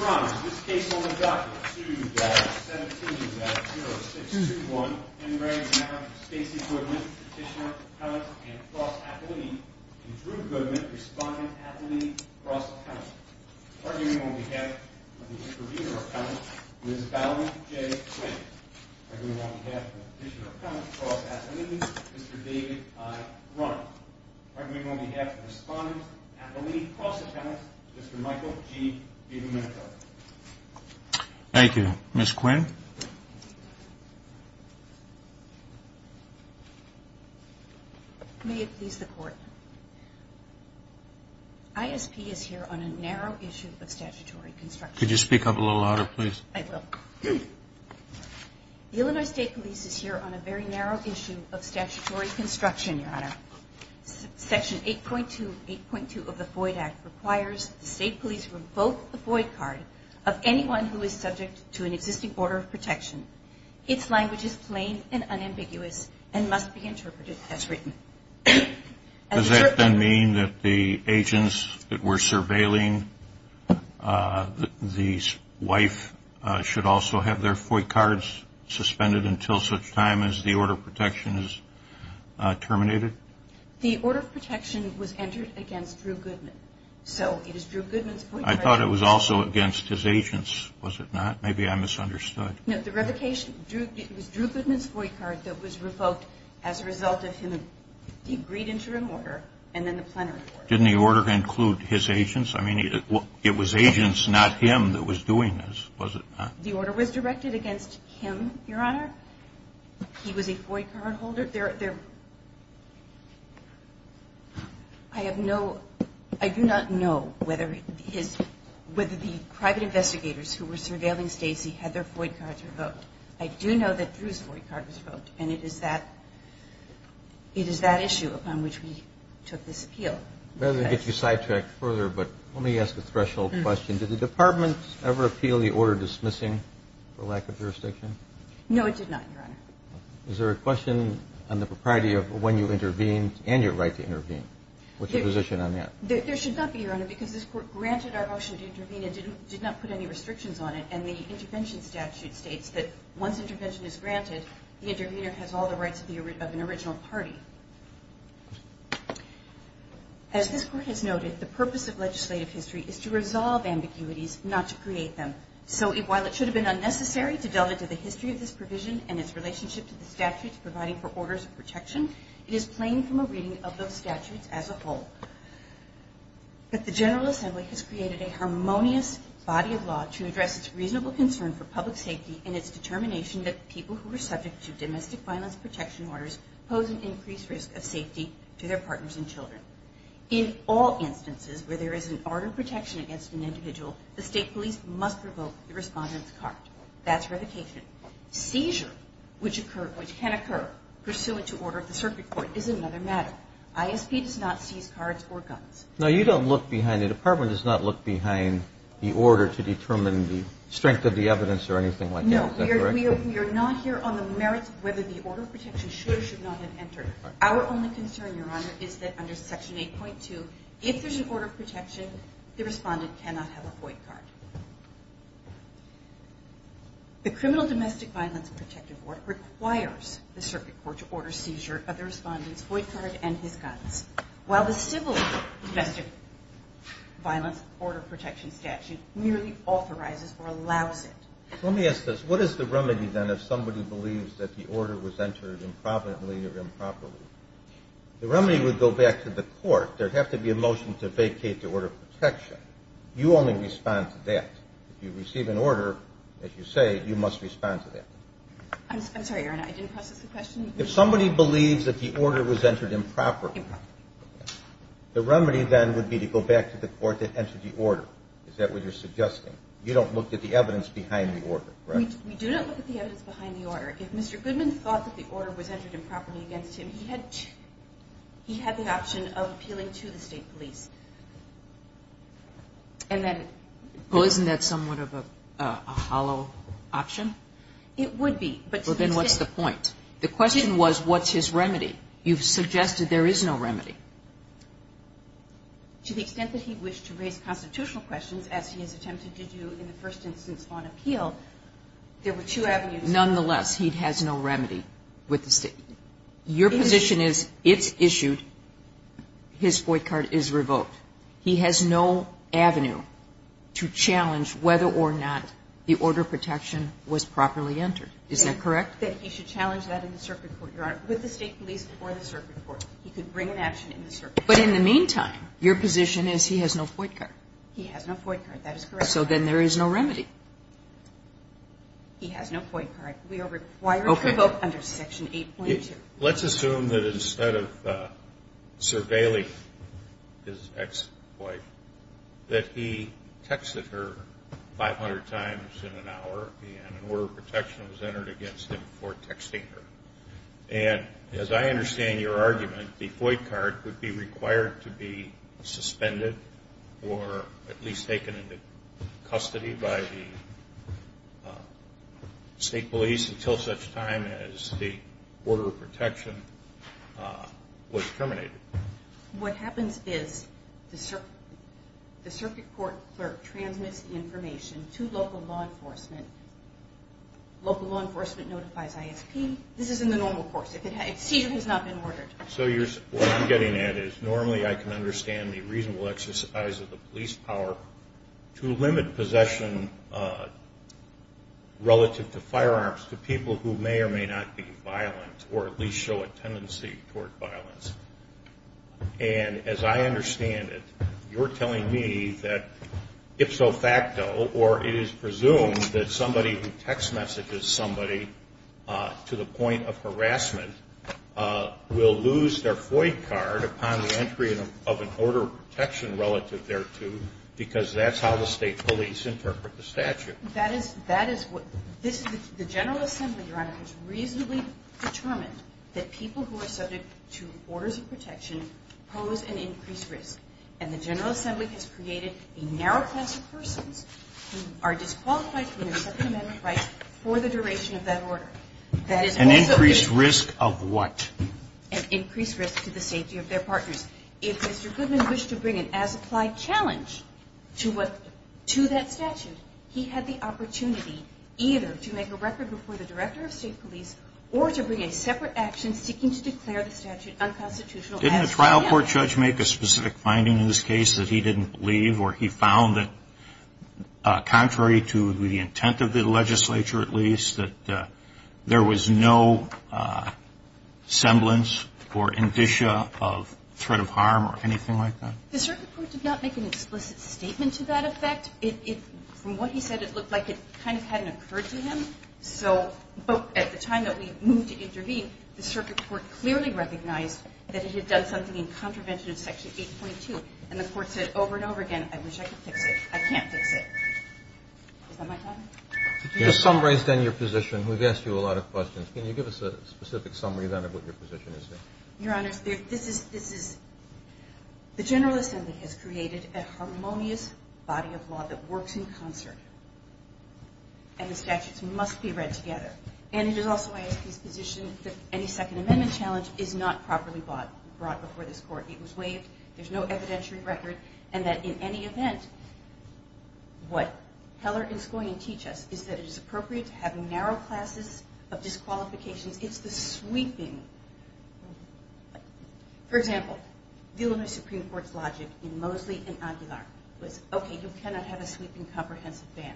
Ron, in this case on the document 2-17-0621, in marriage now to Stacey Goodman, Petitioner, Appellant, and Cross-Appellee, and Drew Goodman, Respondent, Appellee, Cross-Appellant. Arguing on behalf of the Intervenor Appellant, Ms. Valerie J. Quinn. Arguing on behalf of the Petitioner Appellant, Cross-Appellee, Mr. David I. Runn. Arguing on behalf of the Respondent, Appellee, Cross-Appellant, Mr. Michael G. Domenico. Thank you. Ms. Quinn. May it please the Court. ISP is here on a narrow issue of statutory construction. Could you speak up a little louder, please? I will. The Illinois State Police is here on a very narrow issue of statutory construction, Your Honor. Section 8.2 of the FOID Act requires the State Police to revoke the FOID card of anyone who is subject to an existing order of protection. Its language is plain and unambiguous and must be interpreted as written. Does that then mean that the agents that were surveilling the wife should also have their FOID cards suspended until such time as the order of protection is terminated? The order of protection was entered against Drew Goodman, so it is Drew Goodman's FOID card. I thought it was also against his agents, was it not? Maybe I misunderstood. No, the revocation was Drew Goodman's FOID card that was revoked as a result of the agreed interim order and then the plenary order. Didn't the order include his agents? I mean, it was agents, not him, that was doing this, was it not? The order was directed against him, Your Honor. He was a FOID card holder. I do not know whether the private investigators who were surveilling Stacy had their FOID cards revoked. I do know that Drew's FOID card was revoked, and it is that issue upon which we took this appeal. Let me get you sidetracked further, but let me ask a threshold question. Did the Department ever appeal the order dismissing for lack of jurisdiction? No, it did not, Your Honor. Is there a question on the propriety of when you intervened and your right to intervene? What's your position on that? There should not be, Your Honor, because this Court granted our motion to intervene and did not put any restrictions on it, and the intervention statute states that once intervention is granted, the intervener has all the rights of an original party. As this Court has noted, the purpose of legislative history is to resolve ambiguities, not to create them. So while it should have been unnecessary to delve into the history of this provision and its relationship to the statutes providing for orders of protection, it is plain from a reading of those statutes as a whole. But the General Assembly has created a harmonious body of law to address its reasonable concern for public safety and its determination that people who are subject to domestic violence protection orders pose an increased risk of safety to their partners and children. In all instances where there is an order of protection against an individual, the state police must revoke the respondent's card. That's revocation. Seizure, which can occur pursuant to order of the circuit court, is another matter. ISP does not seize cards or guns. No, you don't look behind. The Department does not look behind the order to determine the strength of the evidence or anything like that. Is that correct? No, we are not here on the merits of whether the order of protection should or should not have entered. Our only concern, Your Honor, is that under Section 8.2, if there's an order of protection, the respondent cannot have a void card. The criminal domestic violence protective order requires the circuit court to order seizure of the respondent's void card and his guns, while the civil domestic violence order of protection statute merely authorizes or allows it. Let me ask this. What is the remedy, then, if somebody believes that the order was entered improperly or improperly? The remedy would go back to the court. There would have to be a motion to vacate the order of protection. You only respond to that. If you receive an order, as you say, you must respond to that. I'm sorry, Your Honor, I didn't process the question. If somebody believes that the order was entered improperly, the remedy, then, would be to go back to the court that entered the order. Is that what you're suggesting? You don't look at the evidence behind the order, correct? We do not look at the evidence behind the order. If Mr. Goodman thought that the order was entered improperly against him, he had the option of appealing to the state police. Well, isn't that somewhat of a hollow option? It would be. Well, then, what's the point? The question was, what's his remedy? You've suggested there is no remedy. To the extent that he wished to raise constitutional questions, as he has attempted to do in the first instance on appeal, there were two avenues. Nonetheless, he has no remedy with the state. Your position is, it's issued, his void card is revoked. He has no avenue to challenge whether or not the order of protection was properly entered. Is that correct? That he should challenge that in the circuit court, Your Honor, with the state police or the circuit court. He could bring an action in the circuit court. But in the meantime, your position is he has no void card. He has no void card. That is correct. So then there is no remedy. He has no void card. We are required to revoke under Section 8.2. Let's assume that instead of surveilling his ex-wife, that he texted her 500 times in an hour and an order of protection was entered against him for texting her. And as I understand your argument, the void card would be required to be suspended or at least taken into custody by the state police until such time as the order of protection was terminated. What happens is the circuit court clerk transmits information to local law enforcement. Local law enforcement notifies ISP. This is in the normal course. A seizure has not been ordered. So what I'm getting at is normally I can understand the reasonable exercise of the police power to limit possession relative to firearms to people who may or may not be violent or at least show a tendency toward violence. And as I understand it, you're telling me that ipso facto or it is presumed that somebody who text messages somebody to the point of harassment will lose their void card upon the entry of an order of protection relative thereto because that's how the state police interpret the statute. That is what the General Assembly, Your Honor, has reasonably determined that people who are subject to orders of protection pose an increased risk. And the General Assembly has created a narrow class of persons who are qualified to receive a second amendment right for the duration of that order. An increased risk of what? An increased risk to the safety of their partners. If Mr. Goodman wished to bring an as-applied challenge to that statute, he had the opportunity either to make a record before the director of state police or to bring a separate action seeking to declare the statute unconstitutional. Didn't a trial court judge make a specific finding in this case that he didn't believe or he found that contrary to the intent of the legislature at least, that there was no semblance or indicia of threat of harm or anything like that? The circuit court did not make an explicit statement to that effect. From what he said, it looked like it kind of hadn't occurred to him. So at the time that we moved to intervene, the circuit court clearly recognized that it had done something in contravention of Section 8.2. And the court said over and over again, I wish I could fix it. I can't fix it. Is that my time? Your summary is then your position. We've asked you a lot of questions. Can you give us a specific summary then of what your position is? Your Honor, this is the General Assembly has created a harmonious body of law that works in concert. And the statutes must be read together. And it is also my position that any second amendment challenge is not properly brought before this court. It was waived. There's no evidentiary record, and that in any event, what Heller is going to teach us is that it is appropriate to have narrow classes of disqualifications. It's the sweeping. For example, the Illinois Supreme Court's logic in Mosley and Aguilar was, okay, you cannot have a sweeping comprehensive ban.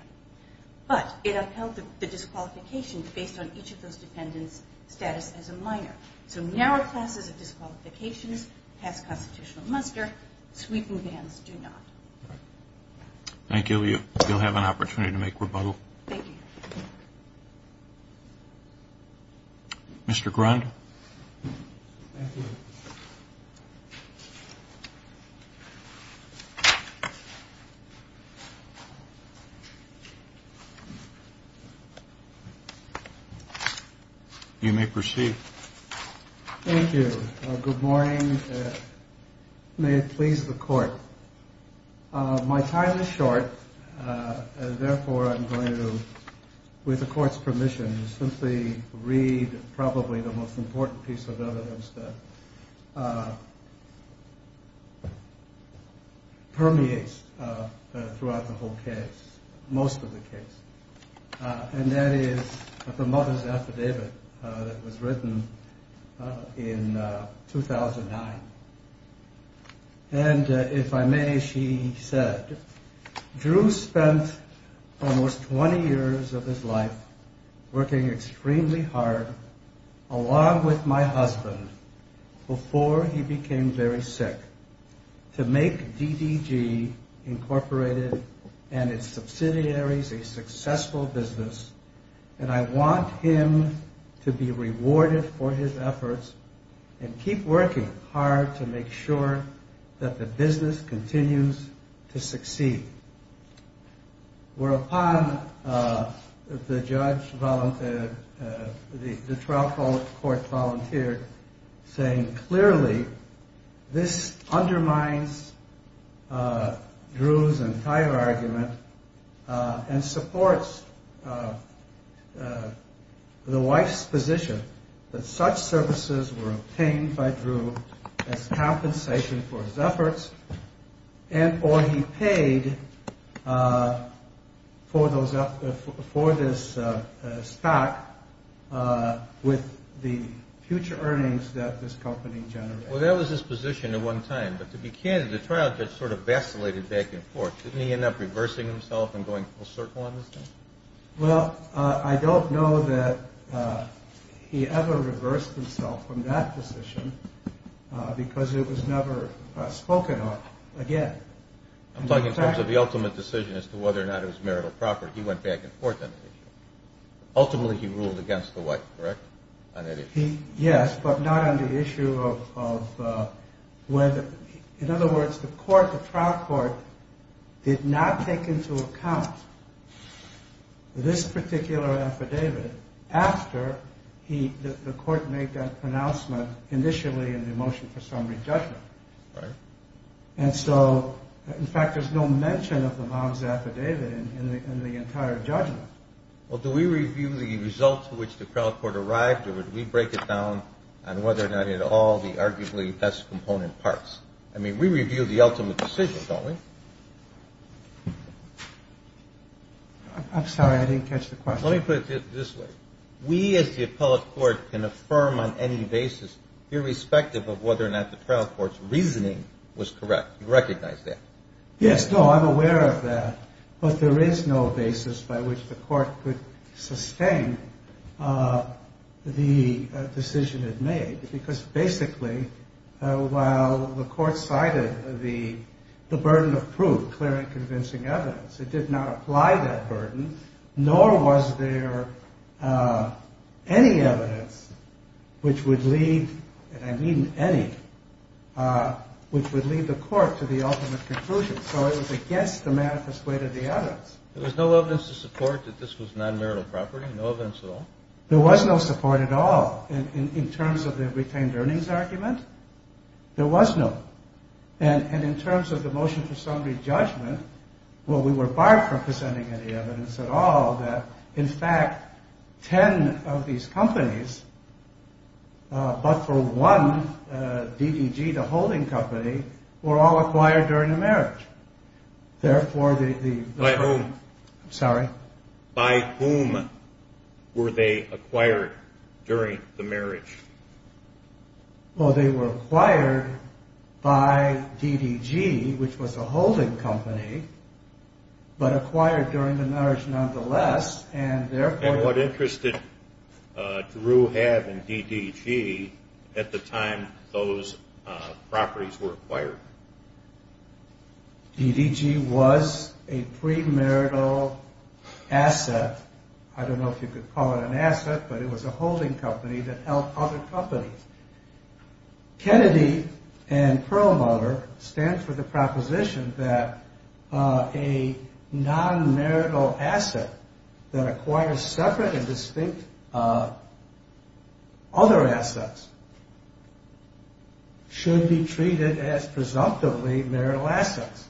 But it upheld the disqualification based on each of those dependents' status as a minor. So narrow classes of disqualifications has constitutional muster. Sweeping bans do not. Thank you. You'll have an opportunity to make rebuttal. Thank you. Mr. Grund? Thank you. You may proceed. Thank you. Good morning. May it please the court. My time is short. Therefore, I'm going to, with the court's permission, simply read probably the most important piece of evidence that permeates throughout the whole case, most of the case. And that is the mother's affidavit that was written in 2009. And if I may, she said, Drew spent almost 20 years of his life working extremely hard, along with my husband, before he became very sick, to make DDG Incorporated and its subsidiaries a successful business, and I want him to be rewarded for his efforts and keep working hard to make sure that the business continues to succeed. Whereupon, the trial court volunteered, saying, this undermines Drew's entire argument and supports the wife's position that such services were obtained by Drew as compensation for his efforts, or he paid for this stock with the future earnings that this company generated. Well, that was his position at one time. But to be candid, the trial judge sort of vacillated back and forth. Didn't he end up reversing himself and going full circle on this thing? Well, I don't know that he ever reversed himself from that position because it was never spoken of again. I'm talking in terms of the ultimate decision as to whether or not it was marital property. He went back and forth on that issue. Ultimately, he ruled against the wife, correct, on that issue? Yes, but not on the issue of whether. In other words, the trial court did not take into account this particular affidavit after the court made that pronouncement initially in the motion for summary judgment. Right. And so, in fact, there's no mention of the mom's affidavit in the entire judgment. Well, do we review the results to which the trial court arrived, or would we break it down on whether or not it all the arguably best component parts? I mean, we review the ultimate decision, don't we? I'm sorry. I didn't catch the question. Let me put it this way. We, as the appellate court, can affirm on any basis, irrespective of whether or not the trial court's reasoning was correct. You recognize that? Yes. No, I'm aware of that. But there is no basis by which the court could sustain the decision it made, because basically, while the court cited the burden of proof, clear and convincing evidence, it did not apply that burden, nor was there any evidence which would lead, and I mean any, which would lead the court to the ultimate conclusion. So it was against the manifest weight of the evidence. There was no evidence to support that this was non-marital property? No evidence at all? There was no support at all. In terms of the retained earnings argument, there was no. And in terms of the motion for summary judgment, well, we were barred from presenting any evidence at all that, in fact, 10 of these companies, but for one DDG, the holding company, were all acquired during the marriage. Therefore, the… By whom? I'm sorry? By whom were they acquired during the marriage? Well, they were acquired by DDG, which was a holding company, but acquired during the marriage nonetheless, and therefore… And what interest did Drew have in DDG at the time those properties were acquired? DDG was a premarital asset. I don't know if you could call it an asset, but it was a holding company that held other companies. Kennedy and Perlmutter stand for the proposition that a non-marital asset that acquires separate and distinct other assets should be treated as presumptively marital assets,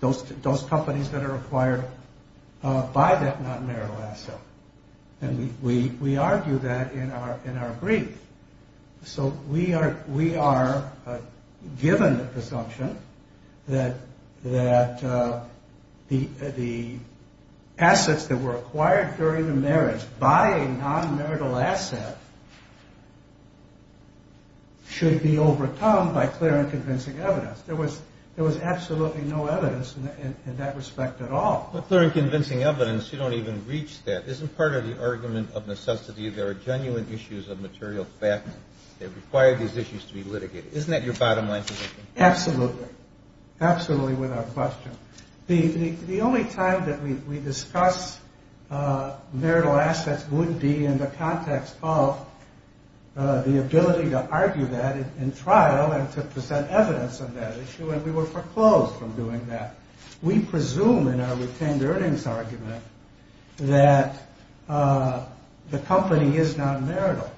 those companies that are acquired by that non-marital asset. And we argue that in our brief. So we are given the presumption that the assets that were acquired during the marriage by a non-marital asset should be overcome by clear and convincing evidence. There was absolutely no evidence in that respect at all. But clear and convincing evidence, you don't even reach that. Isn't part of the argument of necessity there are genuine issues of material fact that require these issues to be litigated? Isn't that your bottom line position? Absolutely. Absolutely without question. The only time that we discuss marital assets would be in the context of the ability to argue that in trial and to present evidence of that issue, and we were foreclosed from doing that. We presume in our retained earnings argument that the company is non-marital,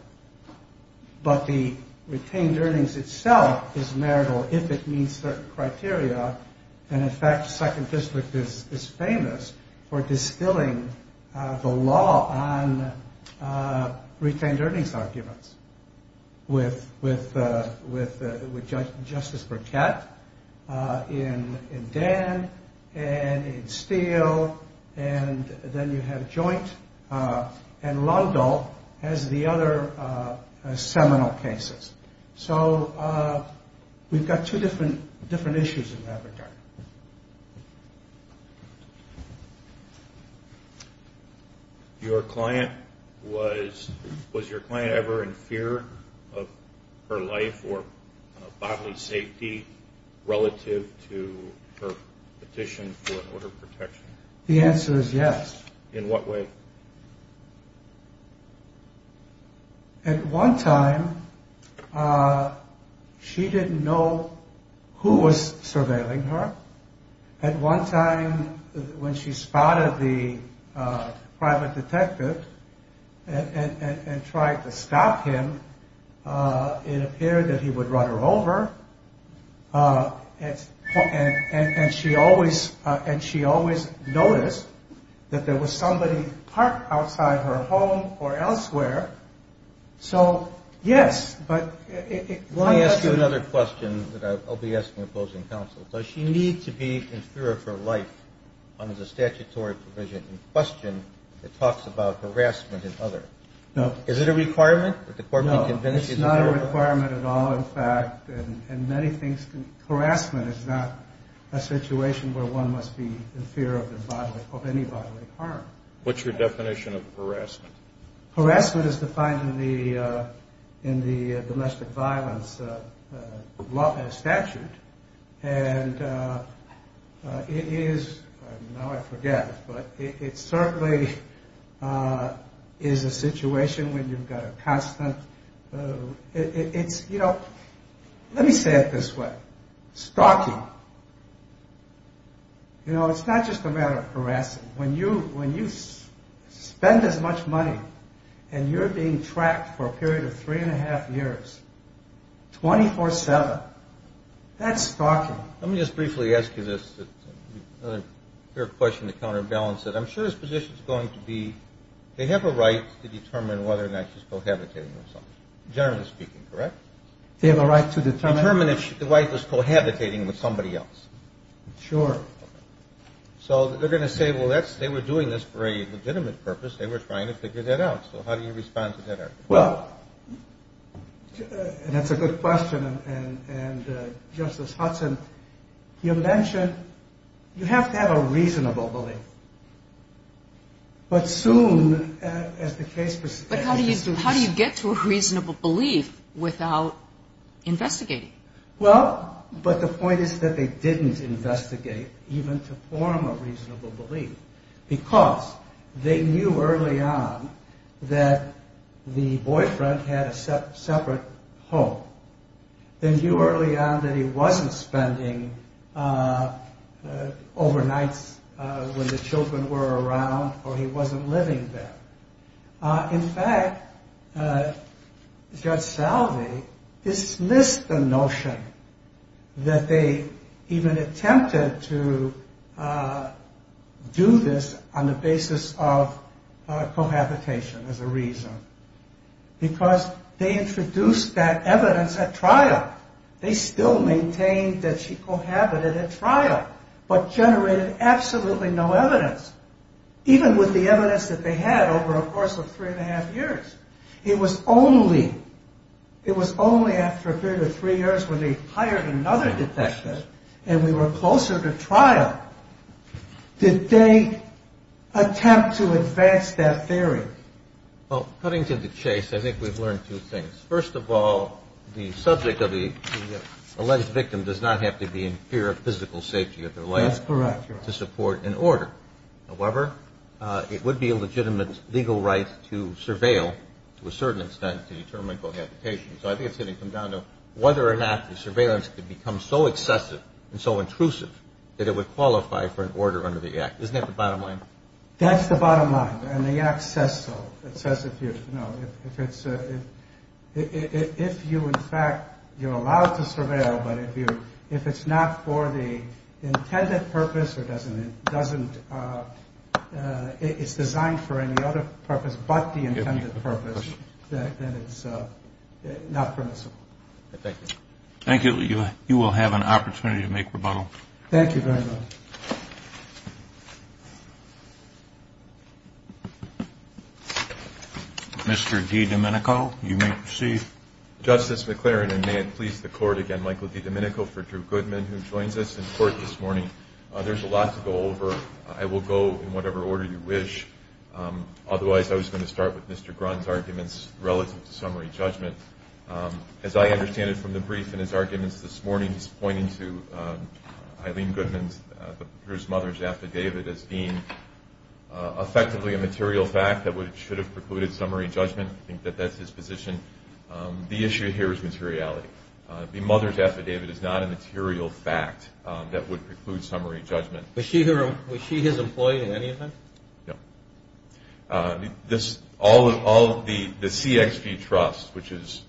but the retained earnings itself is marital if it meets certain criteria. And in fact, Second District is famous for distilling the law on retained earnings arguments with Justice Burkett in Dan and in Steele, and then you have Joint and Lundell as the other seminal cases. So we've got two different issues in that regard. Your client, was your client ever in fear of her life or bodily safety relative to her petition for order of protection? The answer is yes. In what way? At one time, she didn't know who was surveilling her. At one time when she spotted the private detective and tried to stop him, it appeared that he would run her over. And she always noticed that there was somebody parked outside her home or elsewhere. So, yes. Let me ask you another question that I'll be asking opposing counsel. Does she need to be in fear of her life under the statutory provision in question that talks about harassment and other? No. It's not a requirement at all, in fact. And many things, harassment is not a situation where one must be in fear of any bodily harm. What's your definition of harassment? Harassment is defined in the domestic violence statute. And it is, now I forget, but it certainly is a situation when you've got a constant, it's, you know, let me say it this way. Stalking. You know, it's not just a matter of harassing. When you spend as much money and you're being tracked for a period of three and a half years, 24-7, that's stalking. Let me just briefly ask you this, another question to counterbalance it. I'm sure his position is going to be they have a right to determine whether or not she's cohabitating with somebody. Generally speaking, correct? They have a right to determine? Determine if the wife is cohabitating with somebody else. Sure. So they're going to say, well, they were doing this for a legitimate purpose. They were trying to figure that out. So how do you respond to that? Well, and that's a good question. And, Justice Hudson, you mentioned you have to have a reasonable belief. But soon, as the case persists. But how do you get to a reasonable belief without investigating? Well, but the point is that they didn't investigate even to form a reasonable belief. Because they knew early on that the boyfriend had a separate home. They knew early on that he wasn't spending overnights when the children were around or he wasn't living there. In fact, Judge Salve dismissed the notion that they even attempted to do this on the basis of cohabitation as a reason. Because they introduced that evidence at trial. They still maintained that she cohabited at trial. But generated absolutely no evidence. Even with the evidence that they had over a course of three and a half years. It was only after a period of three years when they hired another detective and we were closer to trial. Did they attempt to advance that theory? Well, cutting to the chase, I think we've learned two things. First of all, the subject of the alleged victim does not have to be in fear of physical safety of their life. That's correct. To support an order. However, it would be a legitimate legal right to surveil to a certain extent to determine cohabitation. So I think it's going to come down to whether or not the surveillance could become so excessive and so intrusive that it would qualify for an order under the Act. Isn't that the bottom line? That's the bottom line. And the Act says so. If you're allowed to surveil, but if it's not for the intended purpose or it's designed for any other purpose but the intended purpose, then it's not permissible. Thank you. You will have an opportunity to make rebuttal. Thank you very much. Mr. DiDomenico, you may proceed. Justice McClaren, and may it please the Court, again, Michael DiDomenico for Drew Goodman, who joins us in court this morning. There's a lot to go over. I will go in whatever order you wish. Otherwise, I was going to start with Mr. Grun's arguments relative to summary judgment. As I understand it from the brief and his arguments this morning, he's pointing to Eileen Goodman, Drew's mother's affidavit, as being effectively a material fact that should have precluded summary judgment. I think that that's his position. The issue here is materiality. The mother's affidavit is not a material fact that would preclude summary judgment. Was she his employee in any event? No. All of the CXG Trust, which is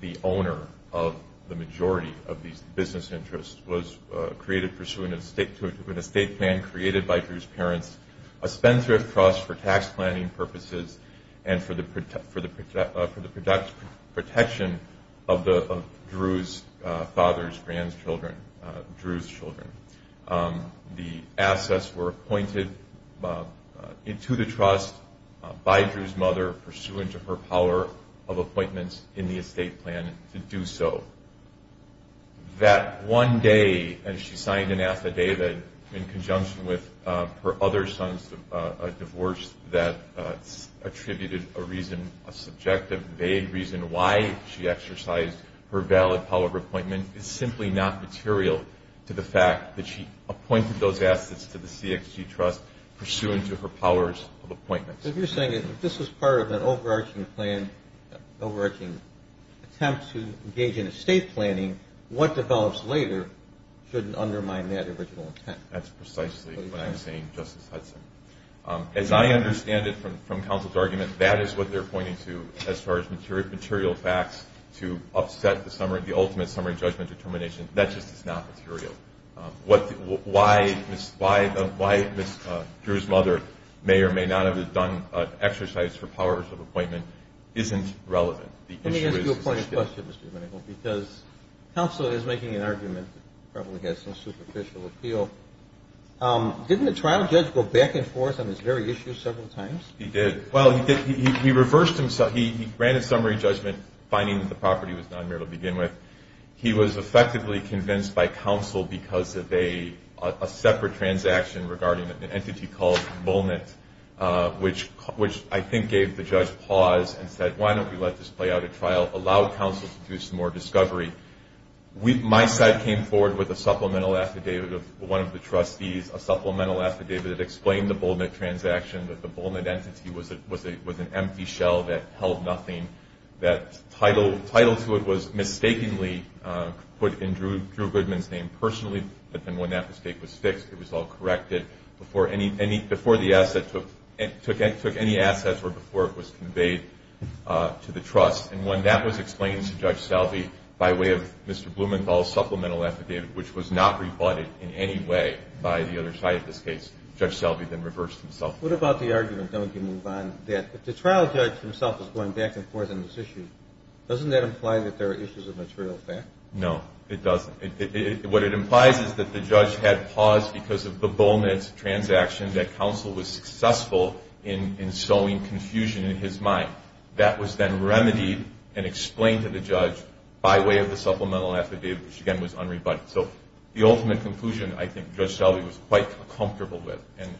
the owner of the majority of these business interests, was created pursuant to an estate plan created by Drew's parents, a spendthrift trust for tax planning purposes and for the protection of Drew's father's grandchildren, Drew's children. The assets were appointed into the trust by Drew's mother pursuant to her power of appointments in the estate plan to do so. That one day, as she signed an affidavit in conjunction with her other son's divorce that attributed a reason, a subjective, vague reason why she exercised her valid power of appointment, is simply not material to the fact that she appointed those assets to the CXG Trust pursuant to her powers of appointments. So you're saying if this was part of an overarching plan, overarching attempt to engage in estate planning, what develops later shouldn't undermine that original intent. That's precisely what I'm saying, Justice Hudson. As I understand it from counsel's argument, that is what they're pointing to as far as material facts to upset the ultimate summary judgment determination. That just is not material. Why Drew's mother may or may not have done an exercise for powers of appointment isn't relevant. Let me ask you a point of question, Mr. Venable, because counsel is making an argument that probably has some superficial appeal. Didn't the trial judge go back and forth on this very issue several times? He did. Well, he reversed himself. He ran a summary judgment finding that the property was non-material to begin with. He was effectively convinced by counsel because of a separate transaction regarding an entity called Bulnett, which I think gave the judge pause and said, why don't we let this play out at trial, allow counsel to do some more discovery. My side came forward with a supplemental affidavit of one of the trustees, a supplemental affidavit that explained the Bulnett transaction, that the Bulnett entity was an empty shell that held nothing, that title to it was mistakenly put in Drew Goodman's name personally, but then when that mistake was fixed, it was all corrected before the asset took any assets or before it was conveyed to the trust. And when that was explained to Judge Salve by way of Mr. Blumenthal's supplemental affidavit, which was not rebutted in any way by the other side of this case, Judge Salve then reversed himself. What about the argument, then we can move on, that if the trial judge himself is going back and forth on this issue, doesn't that imply that there are issues of material fact? No, it doesn't. What it implies is that the judge had pause because of the Bulnett transaction, that counsel was successful in sowing confusion in his mind. That was then remedied and explained to the judge by way of the supplemental affidavit, which again was unrebutted. So the ultimate conclusion, I think, Judge Salve was quite comfortable with, and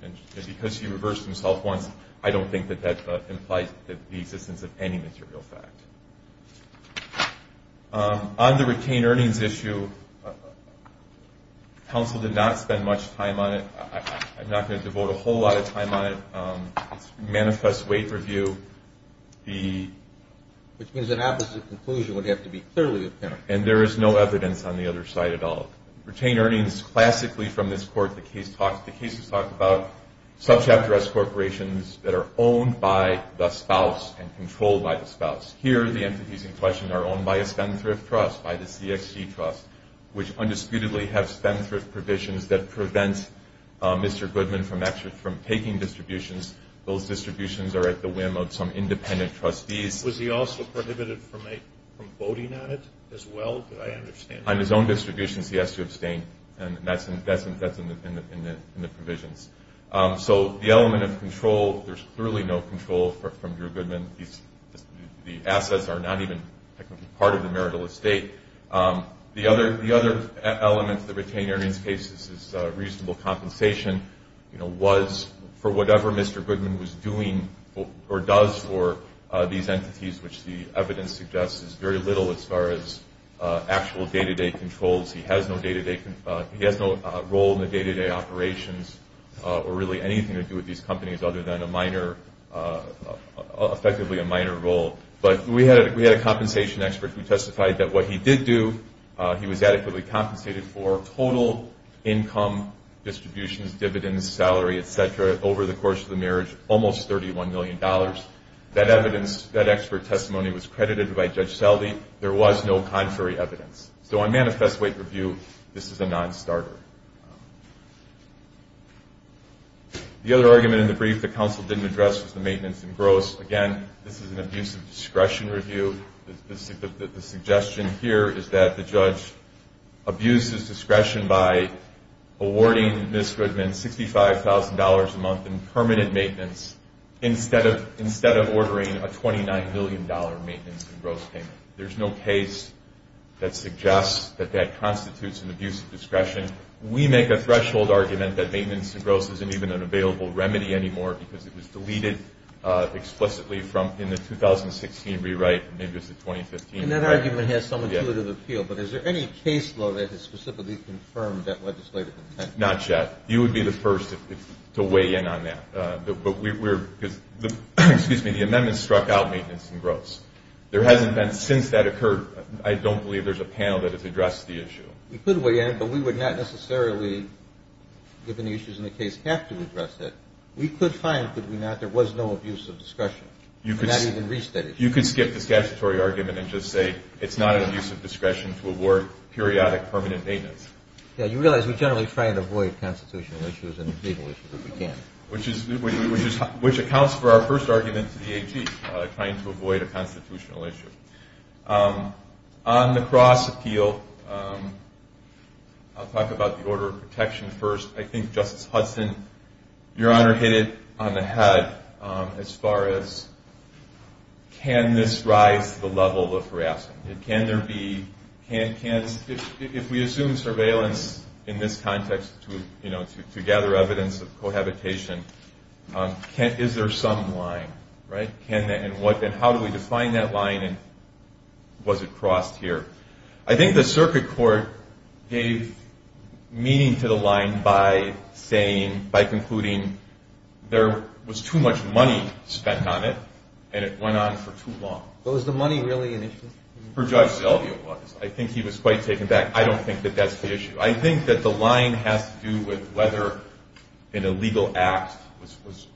because he reversed himself once, I don't think that that implies the existence of any material fact. On the retained earnings issue, counsel did not spend much time on it. I'm not going to devote a whole lot of time on it. It's a manifest weight review. Which means an opposite conclusion would have to be clearly apparent. And there is no evidence on the other side at all. Retained earnings classically from this court, the cases talk about subchapter S corporations that are owned by the spouse and controlled by the spouse. Here, the entities in question are owned by a spendthrift trust, by the CXC trust, which undisputedly have spendthrift provisions that prevent Mr. Goodman from taking distributions. Those distributions are at the whim of some independent trustees. Was he also prohibited from voting on it as well? I understand that. On his own distributions, he has to abstain, and that's in the provisions. So the element of control, there's clearly no control from Drew Goodman. The assets are not even technically part of the marital estate. The other element of the retained earnings case is reasonable compensation, was for whatever Mr. Goodman was doing or does for these entities, which the evidence suggests is very little as far as actual day-to-day controls. He has no role in the day-to-day operations or really anything to do with these companies other than effectively a minor role. But we had a compensation expert who testified that what he did do, he was adequately compensated for total income distributions, dividends, salary, et cetera, over the course of the marriage, almost $31 million. That evidence, that expert testimony was credited by Judge Selvey. There was no contrary evidence. So on manifest weight review, this is a non-starter. The other argument in the brief that counsel didn't address was the maintenance and gross. Again, this is an abuse of discretion review. The suggestion here is that the judge abuses discretion by awarding Ms. Goodman $65,000 a month in permanent maintenance instead of ordering a $29 million maintenance and gross payment. There's no case that suggests that that constitutes an abuse of discretion. We make a threshold argument that maintenance and gross isn't even an available remedy anymore because it was deleted explicitly in the 2016 rewrite. Maybe it was the 2015 rewrite. And that argument has some intuitive appeal. But is there any case law that has specifically confirmed that legislative intent? Not yet. You would be the first to weigh in on that. But we're ñ excuse me, the amendment struck out maintenance and gross. There hasn't been since that occurred. I don't believe there's a panel that has addressed the issue. We could weigh in, but we would not necessarily, given the issues in the case, have to address it. We could find that there was no abuse of discretion. You could skip the statutory argument and just say it's not an abuse of discretion to award periodic permanent maintenance. Yeah, you realize we generally try to avoid constitutional issues and legal issues if we can. Which accounts for our first argument to the AG, trying to avoid a constitutional issue. On the cross appeal, I'll talk about the order of protection first. I think Justice Hudson, Your Honor, hit it on the head as far as can this rise to the level of harassment. Can there be ñ if we assume surveillance in this context to gather evidence of cohabitation, is there some line? And how do we define that line and was it crossed here? I think the circuit court gave meaning to the line by saying, by concluding there was too much money spent on it and it went on for too long. Was the money really an issue? I think he was quite taken back. I don't think that that's the issue. I think that the line has to do with whether an illegal act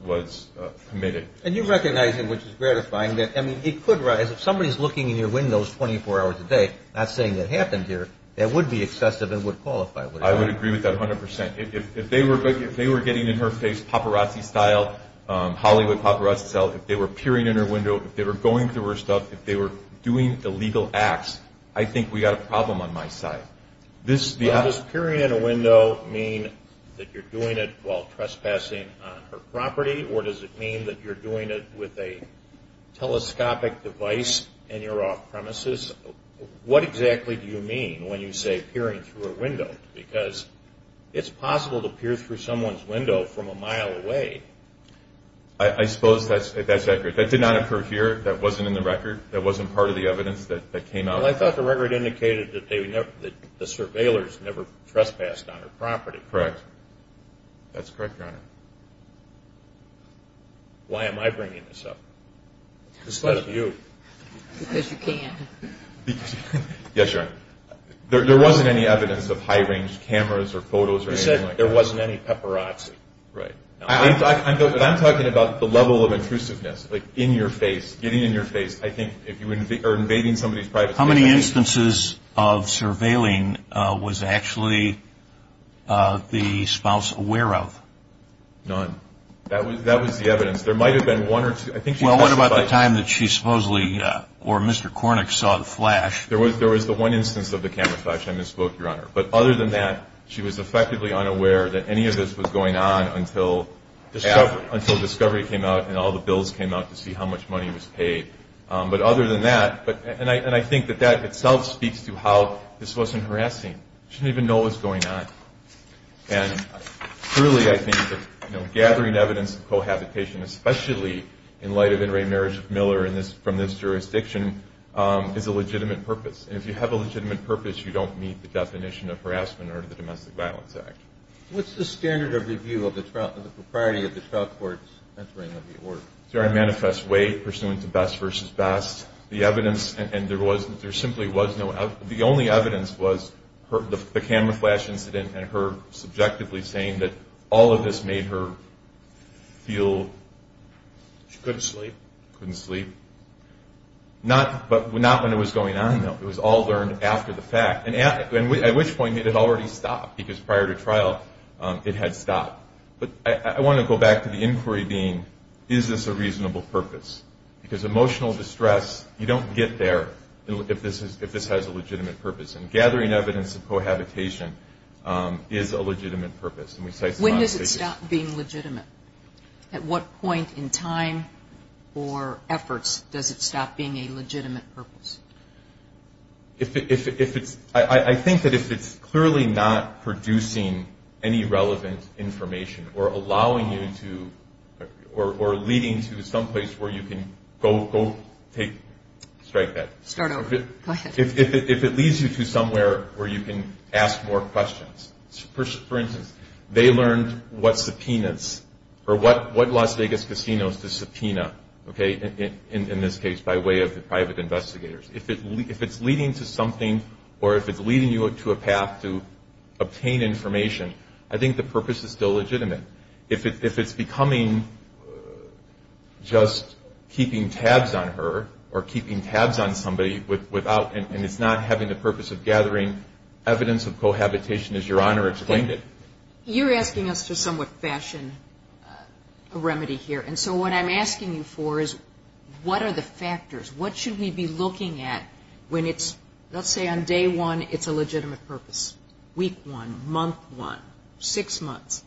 was committed. And you recognize him, which is gratifying. I mean, it could rise. If somebody's looking in your windows 24 hours a day, not saying it happened here, that would be excessive and would qualify. I would agree with that 100%. If they were getting in her face paparazzi style, Hollywood paparazzi style, if they were peering in her window, if they were going through her stuff, if they were doing illegal acts, I think we've got a problem on my side. Does peering in a window mean that you're doing it while trespassing on her property? Or does it mean that you're doing it with a telescopic device and you're off premises? What exactly do you mean when you say peering through a window? Because it's possible to peer through someone's window from a mile away. I suppose that's accurate. That did not occur here. That wasn't in the record. That wasn't part of the evidence that came out. Well, I thought the record indicated that the surveillors never trespassed on her property. Correct. That's correct, Your Honor. Why am I bringing this up instead of you? Because you can. Yes, Your Honor. There wasn't any evidence of high-range cameras or photos or anything like that. You said there wasn't any paparazzi. Right. When I'm talking about the level of intrusiveness, like in your face, getting in your face, I think if you were invading somebody's privacy. How many instances of surveilling was actually the spouse aware of? None. That was the evidence. There might have been one or two. Well, what about the time that she supposedly, or Mr. Kornick, saw the flash? There was the one instance of the camera flash. I misspoke, Your Honor. But other than that, she was effectively unaware that any of this was going on until discovery came out and all the bills came out to see how much money was paid. But other than that, and I think that that itself speaks to how this wasn't harassing. She didn't even know what was going on. And truly, I think that gathering evidence of cohabitation, especially in light of In re Marriage of Miller from this jurisdiction, is a legitimate purpose. And if you have a legitimate purpose, you don't meet the definition of harassment under the Domestic Violence Act. What's the standard of review of the propriety of the trial court's entering of the order? Is there a manifest way pursuant to best versus best? The evidence, and there simply was no evidence. The only evidence was the camera flash incident and her subjectively saying that all of this made her feel... She couldn't sleep. Couldn't sleep. But not when it was going on, though. It was all learned after the fact, at which point it had already stopped because prior to trial it had stopped. But I want to go back to the inquiry being, is this a reasonable purpose? Because emotional distress, you don't get there if this has a legitimate purpose. And gathering evidence of cohabitation is a legitimate purpose. When does it stop being legitimate? At what point in time or efforts does it stop being a legitimate purpose? If it's... I think that if it's clearly not producing any relevant information or allowing you to... Or leading to some place where you can go take... Strike that. Start over. Go ahead. If it leads you to somewhere where you can ask more questions. For instance, they learned what subpoenas or what Las Vegas casinos to subpoena, okay? In this case, by way of the private investigators. If it's leading to something or if it's leading you to a path to obtain information, I think the purpose is still legitimate. If it's becoming just keeping tabs on her or keeping tabs on somebody without... And it's not having the purpose of gathering evidence of cohabitation as Your Honor explained it. You're asking us to somewhat fashion a remedy here. And so what I'm asking you for is what are the factors? What should we be looking at when it's... Let's say on day one, it's a legitimate purpose. Week one. Month one. Six months.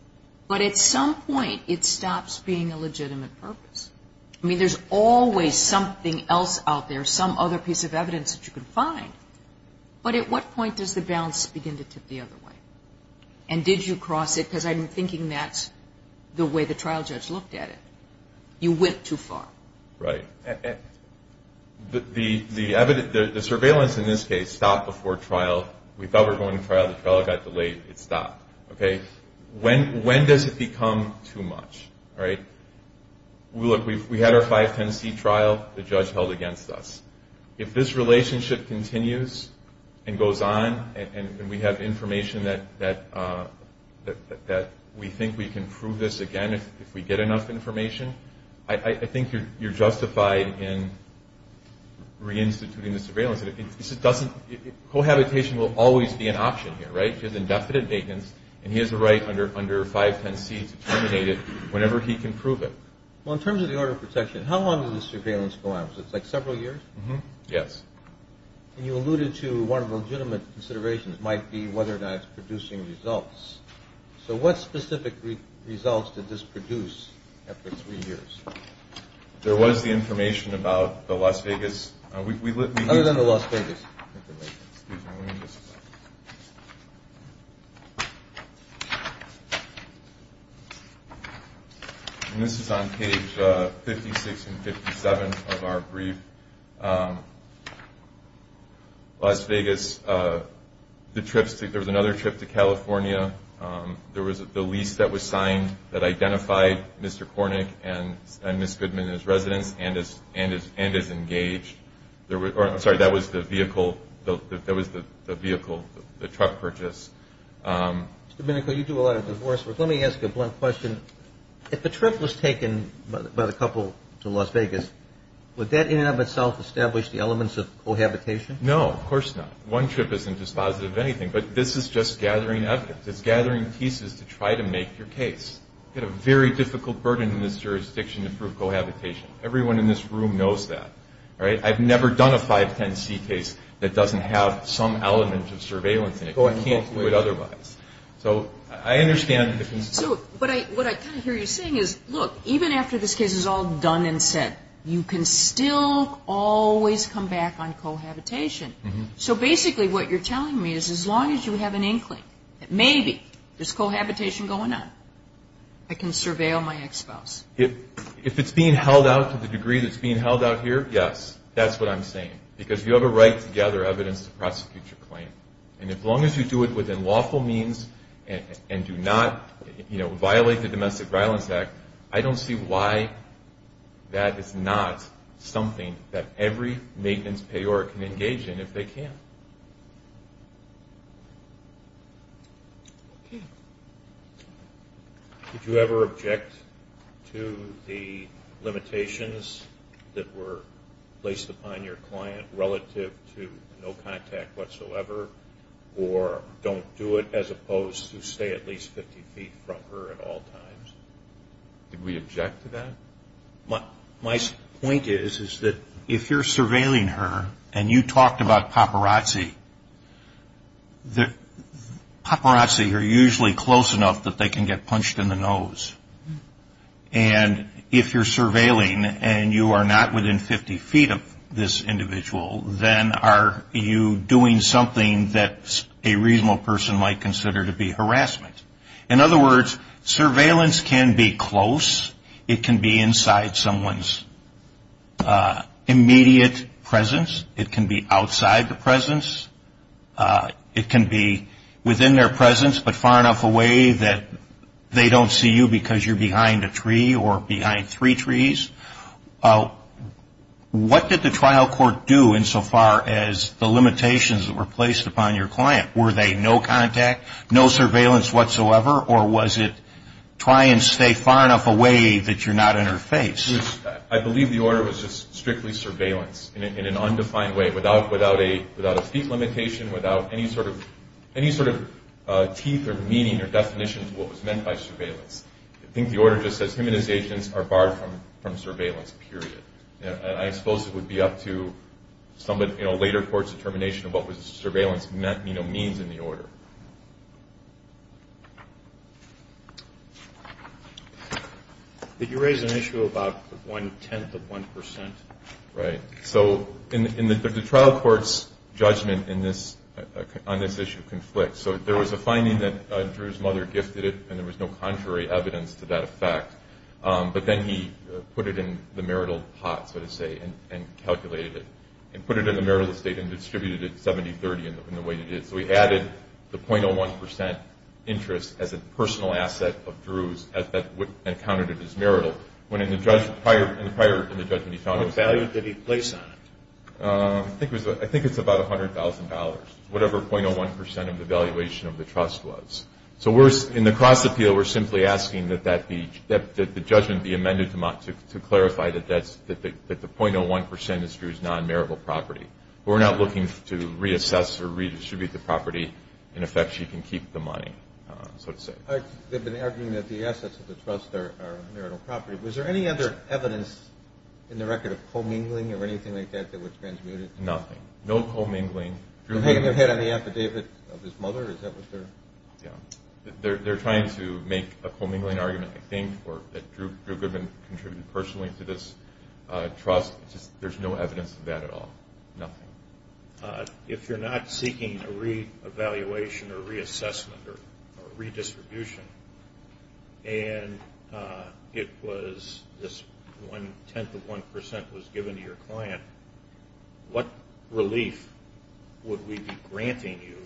But at some point, it stops being a legitimate purpose. I mean, there's always something else out there, some other piece of evidence that you can find. But at what point does the balance begin to tip the other way? And did you cross it? Because I'm thinking that's the way the trial judge looked at it. You went too far. Right. The surveillance in this case stopped before trial. We thought we were going to trial. The trial got delayed. It stopped, okay? When does it become too much, right? Look, we had our 510C trial. The judge held against us. If this relationship continues and goes on and we have information that we think we can prove this again, if we get enough information, I think you're justified in reinstituting the surveillance. Cohabitation will always be an option here, right? He has indefinite maintenance, and he has the right under 510C to terminate it whenever he can prove it. Well, in terms of the order of protection, how long does the surveillance go on? It's like several years? Yes. And you alluded to one of the legitimate considerations might be whether or not it's producing results. So what specific results did this produce after three years? There was the information about the Las Vegas. Other than the Las Vegas. Excuse me. This is on page 56 and 57 of our brief. Las Vegas, there was another trip to California. There was the lease that was signed that identified Mr. Kornick and Ms. Goodman as residents and as engaged. I'm sorry, that was the vehicle, the truck purchase. Mr. Minico, you do a lot of divorce work. Let me ask you a blunt question. If the trip was taken by the couple to Las Vegas, would that in and of itself establish the elements of cohabitation? No, of course not. One trip isn't dispositive of anything, but this is just gathering evidence. It's gathering pieces to try to make your case. You've got a very difficult burden in this jurisdiction to prove cohabitation. Everyone in this room knows that. I've never done a 510C case that doesn't have some element of surveillance in it. I can't do it otherwise. So I understand the concern. But what I kind of hear you saying is, look, even after this case is all done and said, you can still always come back on cohabitation. So basically what you're telling me is as long as you have an inkling that maybe there's cohabitation going on, I can surveil my ex-spouse. If it's being held out to the degree that it's being held out here, yes, that's what I'm saying. Because you have a right to gather evidence to prosecute your claim. And as long as you do it within lawful means and do not violate the Domestic Violence Act, I don't see why that is not something that every maintenance payor can engage in if they can. Okay. Did you ever object to the limitations that were placed upon your client relative to no contact whatsoever or don't do it as opposed to stay at least 50 feet from her at all times? Did we object to that? My point is that if you're surveilling her and you talked about paparazzi, paparazzi are usually close enough that they can get punched in the nose. And if you're surveilling and you are not within 50 feet of this individual, then are you doing something that a reasonable person might consider to be harassment? In other words, surveillance can be close. It can be inside someone's immediate presence. It can be outside the presence. It can be within their presence but far enough away that they don't see you because you're behind a tree or behind three trees. What did the trial court do insofar as the limitations that were placed upon your client? Were they no contact, no surveillance whatsoever, or was it try and stay far enough away that you're not in her face? I believe the order was just strictly surveillance in an undefined way without a feet limitation, without any sort of teeth or meaning or definition of what was meant by surveillance. I think the order just says humanizations are barred from surveillance, period. I suppose it would be up to later court's determination of what surveillance means in the order. Did you raise an issue about one-tenth of one percent? Right. So the trial court's judgment on this issue conflicts. So there was a finding that Drew's mother gifted it, and there was no contrary evidence to that effect. But then he put it in the marital pot, so to say, and calculated it and put it in the marital estate and distributed it 70-30 in the way he did. So he added the 0.01 percent interest as a personal asset of Drew's and counted it as marital. Prior to the judgment, he found it was valid. What value did he place on it? I think it's about $100,000, whatever 0.01 percent of the valuation of the trust was. So in the cross-appeal, we're simply asking that the judgment be amended to clarify that the 0.01 percent is Drew's non-marital property. We're not looking to reassess or redistribute the property in effects she can keep the money, so to say. They've been arguing that the assets of the trust are marital property. Was there any other evidence in the record of commingling or anything like that that was transmuted? Nothing. No commingling. They're hanging their head on the affidavit of his mother? Yeah. They're trying to make a commingling argument, I think, or that Drew Goodman contributed personally to this trust. There's no evidence of that at all. Nothing. If you're not seeking a re-evaluation or reassessment or redistribution and it was this 0.01 percent was given to your client, what relief would we be granting you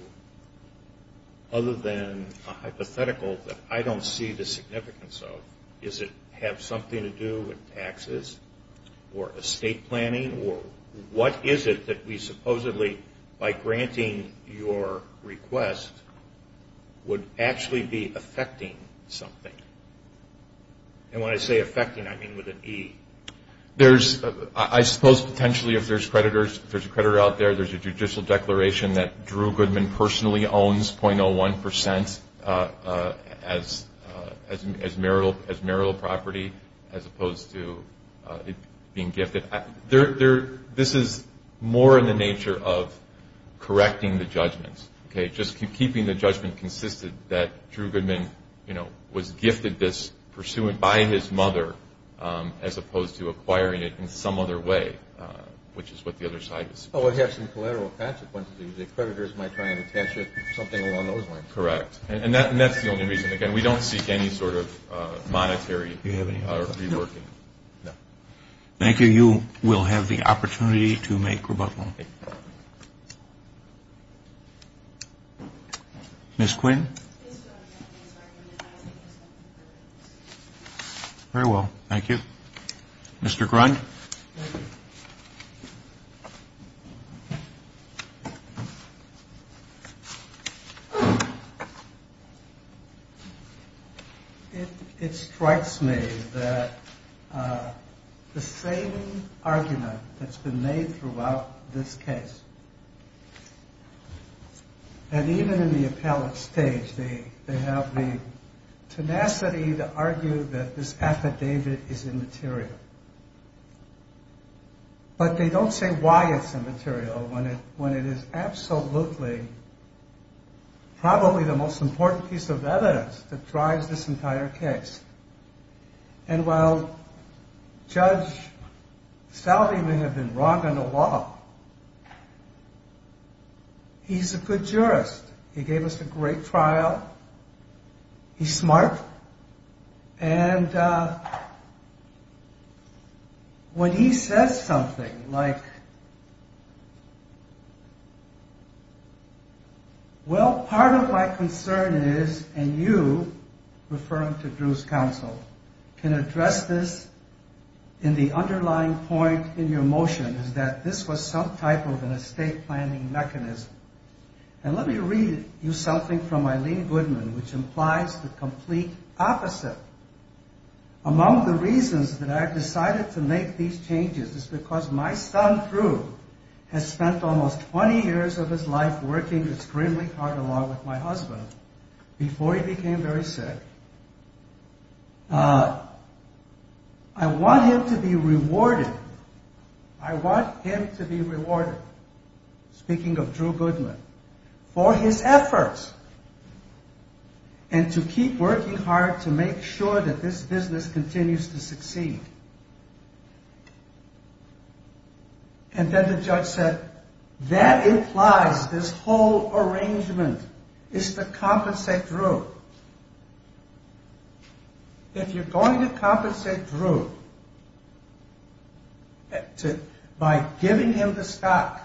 other than a hypothetical that I don't see the significance of? Does it have something to do with taxes or estate planning? Or what is it that we supposedly, by granting your request, would actually be affecting something? And when I say affecting, I mean with an E. I suppose potentially if there's a creditor out there, there's a judicial declaration that Drew Goodman personally owns 0.01 percent as marital property as opposed to it being gifted. This is more in the nature of correcting the judgments, okay? Just keeping the judgment consistent that Drew Goodman, you know, was gifted this pursuant by his mother as opposed to acquiring it in some other way, which is what the other side is saying. Oh, it has some collateral consequences. The creditors might try and attach something along those lines. Correct. And that's the only reason. Again, we don't seek any sort of monetary… Are we working? No. Thank you. You will have the opportunity to make rebuttal. Ms. Quinn? Very well. Thank you. Mr. Grund? Thank you. It strikes me that the same argument that's been made throughout this case, and even in the appellate stage, they have the tenacity to argue that this affidavit is immaterial. But they don't say why it's immaterial when it is absolutely, probably the most important piece of evidence that drives this entire case. And while Judge Salve may have been wrong on the law, he's a good jurist. He gave us a great trial. He's smart. And when he says something like, Well, part of my concern is, and you, referring to Drew's counsel, can address this in the underlying point in your motion, is that this was some type of an estate planning mechanism. And let me read you something from Eileen Goodman, which implies the complete opposite. Among the reasons that I've decided to make these changes is because my son Drew has spent almost 20 years of his life working extremely hard along with my husband before he became very sick. I want him to be rewarded. I want him to be rewarded, speaking of Drew Goodman, for his efforts and to keep working hard to make sure that this business continues to succeed. And then the judge said, That implies this whole arrangement is to compensate Drew. If you're going to compensate Drew by giving him the stock,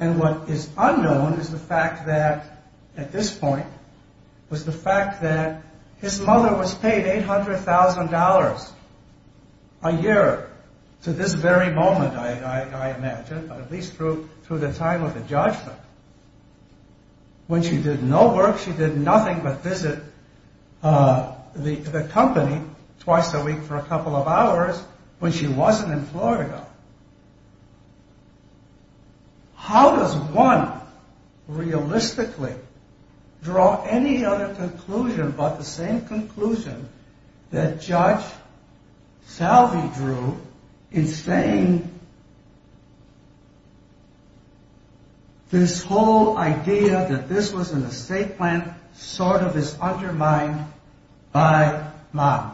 and what is unknown is the fact that, at this point, was the fact that his mother was paid $800,000 a year to this very moment, I imagine, at least through the time of the judgment. When she did no work, she did nothing but visit the company twice a week for a couple of hours when she wasn't in Florida. How does one realistically draw any other conclusion but the same conclusion that Judge Salvey drew in saying this whole idea that this was an estate plan sort of is undermined by model?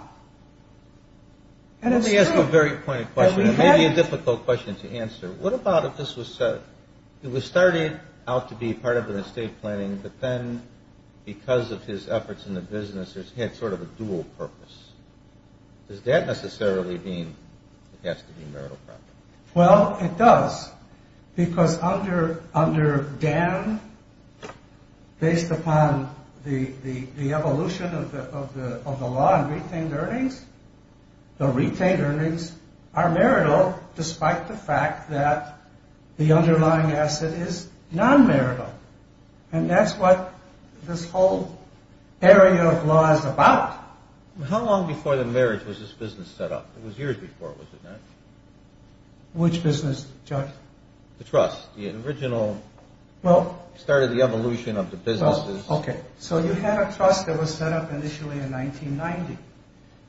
Let me ask a very pointed question. It may be a difficult question to answer. What about if this was said, it was started out to be part of an estate planning, but then, because of his efforts in the business, it had sort of a dual purpose. Does that necessarily mean it has to be marital property? Well, it does, because under Dan, based upon the evolution of the law on retained earnings, the retained earnings are marital despite the fact that the underlying asset is non-marital. And that's what this whole area of law is about. How long before the marriage was this business set up? It was years before, was it not? Which business, Judge? The trust, the original, started the evolution of the business. Okay, so you had a trust that was set up initially in 1990.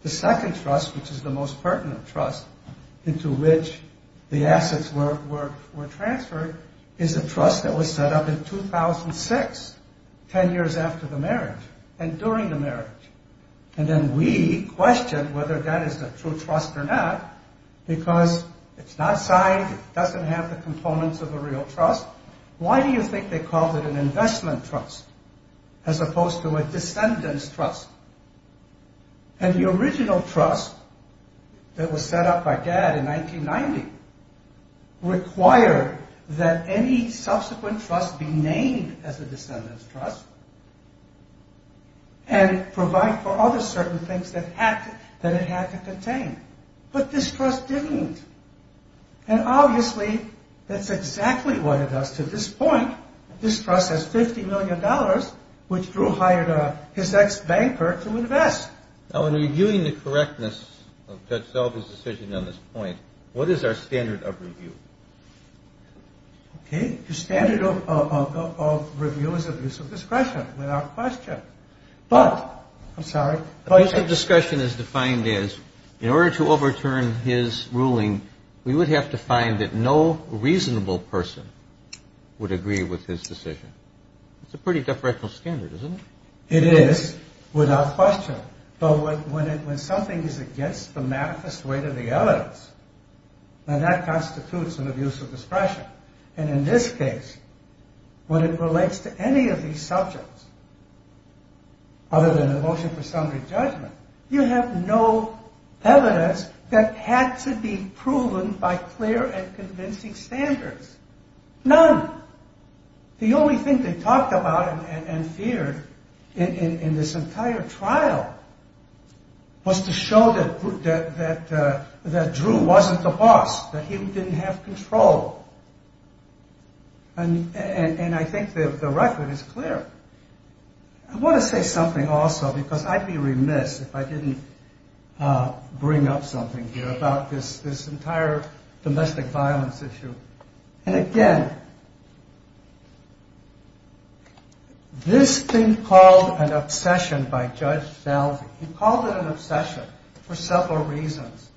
The second trust, which is the most pertinent trust into which the assets were transferred is a trust that was set up in 2006, 10 years after the marriage and during the marriage. And then we question whether that is a true trust or not because it's not signed, it doesn't have the components of a real trust. Why do you think they called it an investment trust as opposed to a descendant's trust? And the original trust that was set up by Dad in 1990 required that any subsequent trust be named as a descendant's trust and provide for other certain things that it had to contain. But this trust didn't. And obviously, that's exactly what it does. To this point, this trust has $50 million which Drew hired his ex-banker to invest. Now, in reviewing the correctness of Judge Selva's decision on this point, what is our standard of review? Okay, the standard of review is abuse of discretion, without question. But, I'm sorry, but... Abuse of discretion is defined as in order to overturn his ruling, we would have to find that no reasonable person would agree with his decision. It's a pretty deferential standard, isn't it? It is, without question. But when something is against the manifest weight of the evidence, then that constitutes an abuse of discretion. And in this case, when it relates to any of these subjects, other than the motion for summary judgment, you have no evidence that had to be proven by clear and convincing standards. None. The only thing they talked about and feared in this entire trial was to show that Drew wasn't the boss, that he didn't have control. And I think the record is clear. I want to say something also, because I'd be remiss if I didn't bring up something here about this entire domestic violence issue. And again, this thing called an obsession by Judge Dalsey, he called it an obsession for several reasons.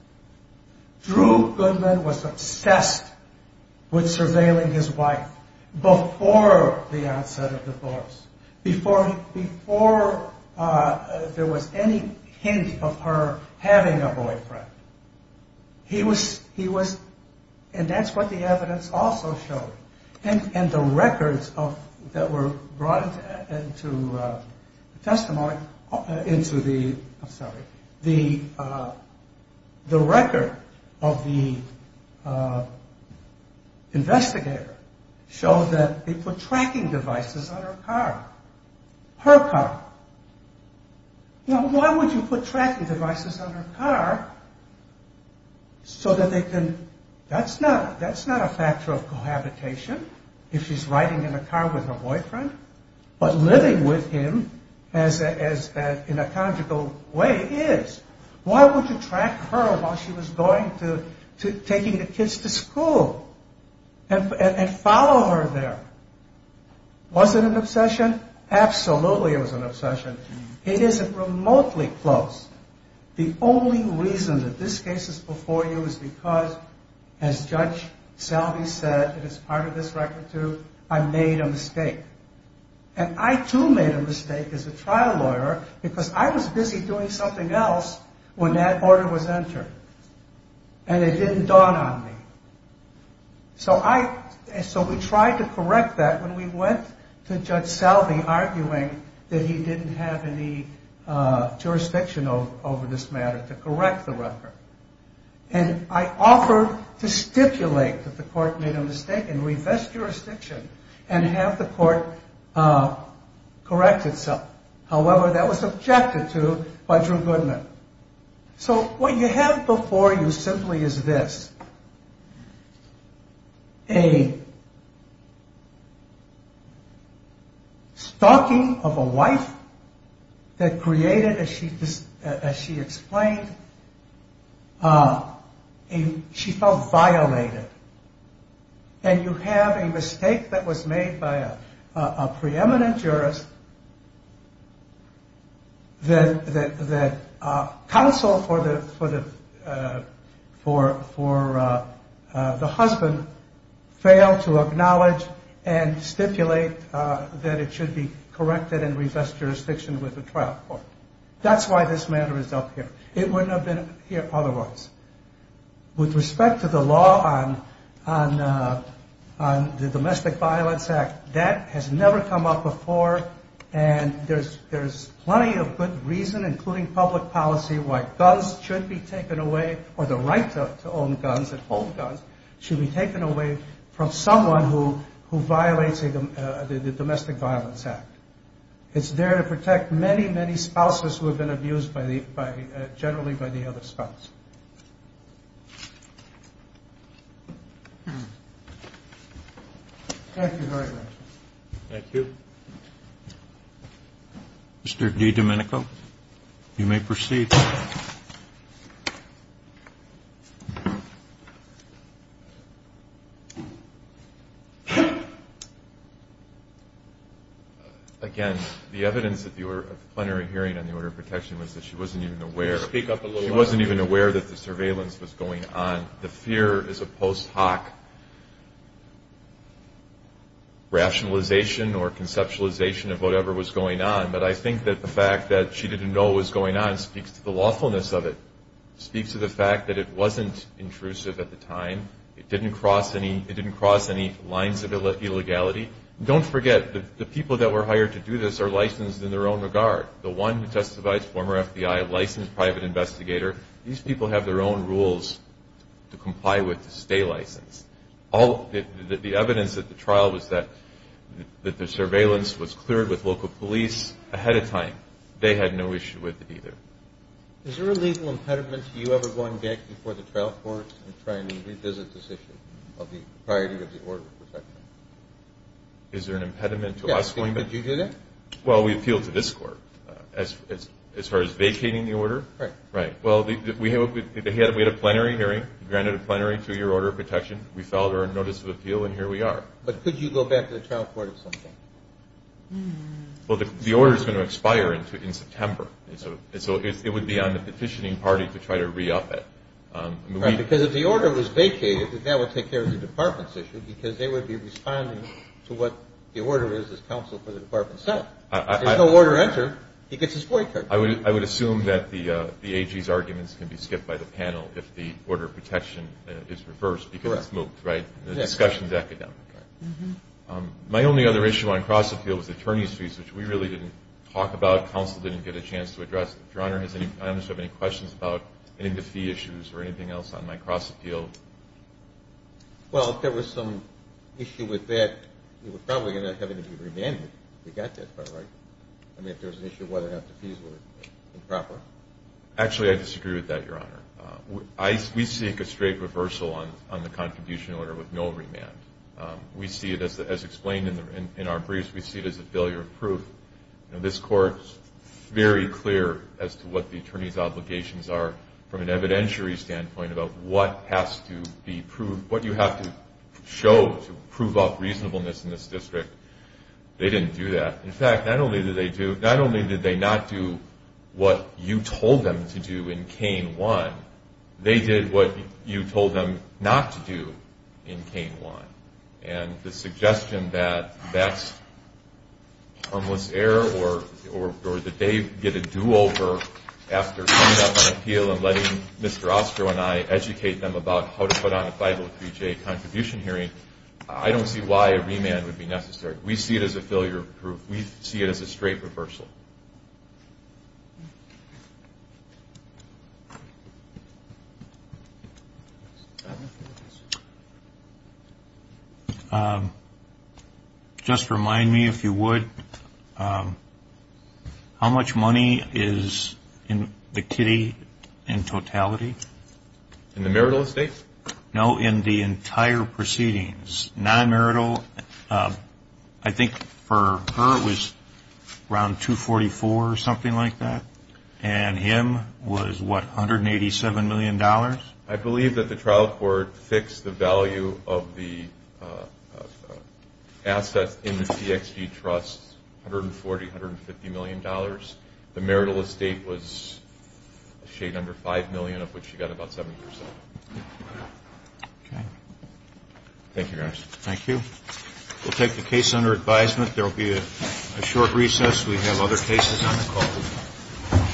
Drew Goodman was obsessed with surveilling his wife before the onset of divorce, before there was any hint of her having a boyfriend. He was... And that's what the evidence also showed. And the records that were brought into testimony into the... I'm sorry. The record of the investigator showed that they put tracking devices on her car. Her car. Now, why would you put tracking devices on her car so that they can... That's not a factor of cohabitation, if she's riding in a car with her boyfriend, but living with him in a conjugal way is. Why would you track her while she was going to... And follow her there? Was it an obsession? Absolutely it was an obsession. It isn't remotely close. The only reason that this case is before you is because, as Judge Selvey said, and it's part of this record too, I made a mistake. And I too made a mistake as a trial lawyer, because I was busy doing something else when that order was entered. And it didn't dawn on me. So we tried to correct that when we went to Judge Selvey arguing that he didn't have any jurisdiction over this matter to correct the record. And I offered to stipulate that the court made a mistake and revest jurisdiction and have the court correct itself. However, that was objected to by Drew Goodman. So what you have before you simply is this. A stalking of a wife that created, as she explained, she felt violated. And you have a mistake that was made by a preeminent jurist that counsel for the husband failed to acknowledge and stipulate that it should be corrected and revest jurisdiction with the trial court. That's why this matter is up here. It wouldn't have been up here otherwise. With respect to the law on the Domestic Violence Act, that has never come up before. And there's plenty of good reason, including public policy, why guns should be taken away or the right to own guns and hold guns should be taken away from someone who violates the Domestic Violence Act. It's there to protect many, many spouses who have been abused generally by the other spouse. Thank you very much. Thank you. Mr. D. Domenico, you may proceed. Again, the evidence that you were plenary hearing on the order of protection was that she wasn't even aware. Speak up a little louder. She wasn't even aware that the surveillance was going on. The fear is a post hoc rationalization or conceptualization of whatever was going on. But I think that the fact that she didn't know what was going on speaks to the lawfulness of it, speaks to the fact that it wasn't intrusive at the time. It didn't cross any lines of illegality. Don't forget, the people that were hired to do this are licensed in their own regard. The one who testifies, former FBI, licensed private investigator, these people have their own rules to comply with to stay licensed. The evidence at the trial was that the surveillance was cleared with local police ahead of time. They had no issue with it either. Is there a legal impediment to you ever going back before the trial court and trying to revisit this issue of the priority of the order of protection? Is there an impediment to us going back? Yes, did you do that? Well, we appealed to this court as far as vacating the order. Right. Well, we had a plenary hearing. We granted a plenary two-year order of protection. We filed our notice of appeal, and here we are. But could you go back to the trial court at some point? Well, the order is going to expire in September. So it would be on the petitioning party to try to re-up it. Right, because if the order was vacated, then that would take care of the department's issue because they would be responding to what the order is as counsel for the department itself. If there's no order entered, he gets his boycott. I would assume that the AG's arguments can be skipped by the panel if the order of protection is reversed because it's moved, right? The discussion is academic. My only other issue on cross-appeal was attorney's fees, which we really didn't talk about. Counsel didn't get a chance to address it. Your Honor, do you have any questions about any of the fee issues or anything else on my cross-appeal? Well, if there was some issue with that, you would probably end up having to be remanded if you got that far right. I mean, if there was an issue of whether or not the fees were improper. Actually, I disagree with that, Your Honor. We seek a straight reversal on the contribution order with no remand. We see it as explained in our briefs. We see it as a failure of proof. This Court is very clear as to what the attorney's obligations are from an evidentiary standpoint about what has to be proved, what you have to show to prove up reasonableness in this district. They didn't do that. In fact, not only did they not do what you told them to do in cane one, they did what you told them not to do in cane one. And the suggestion that that's harmless error or that they get a do-over after coming up on appeal and letting Mr. Ostro and I educate them about how to put on a 503-J contribution hearing, I don't see why a remand would be necessary. We see it as a failure of proof. We see it as a straight reversal. Thank you. Just remind me, if you would, how much money is in the kitty in totality? In the marital estate? No, in the entire proceedings. It was non-marital. I think for her it was around $244,000 or something like that, and him was, what, $187 million? I believe that the trial court fixed the value of the assets in the CXG Trust, $140 million, $150 million. The marital estate was a shade under $5 million, of which she got about 70%. Okay. Thank you, guys. Thank you. We'll take the case under advisement. There will be a short recess. We have other cases on the call.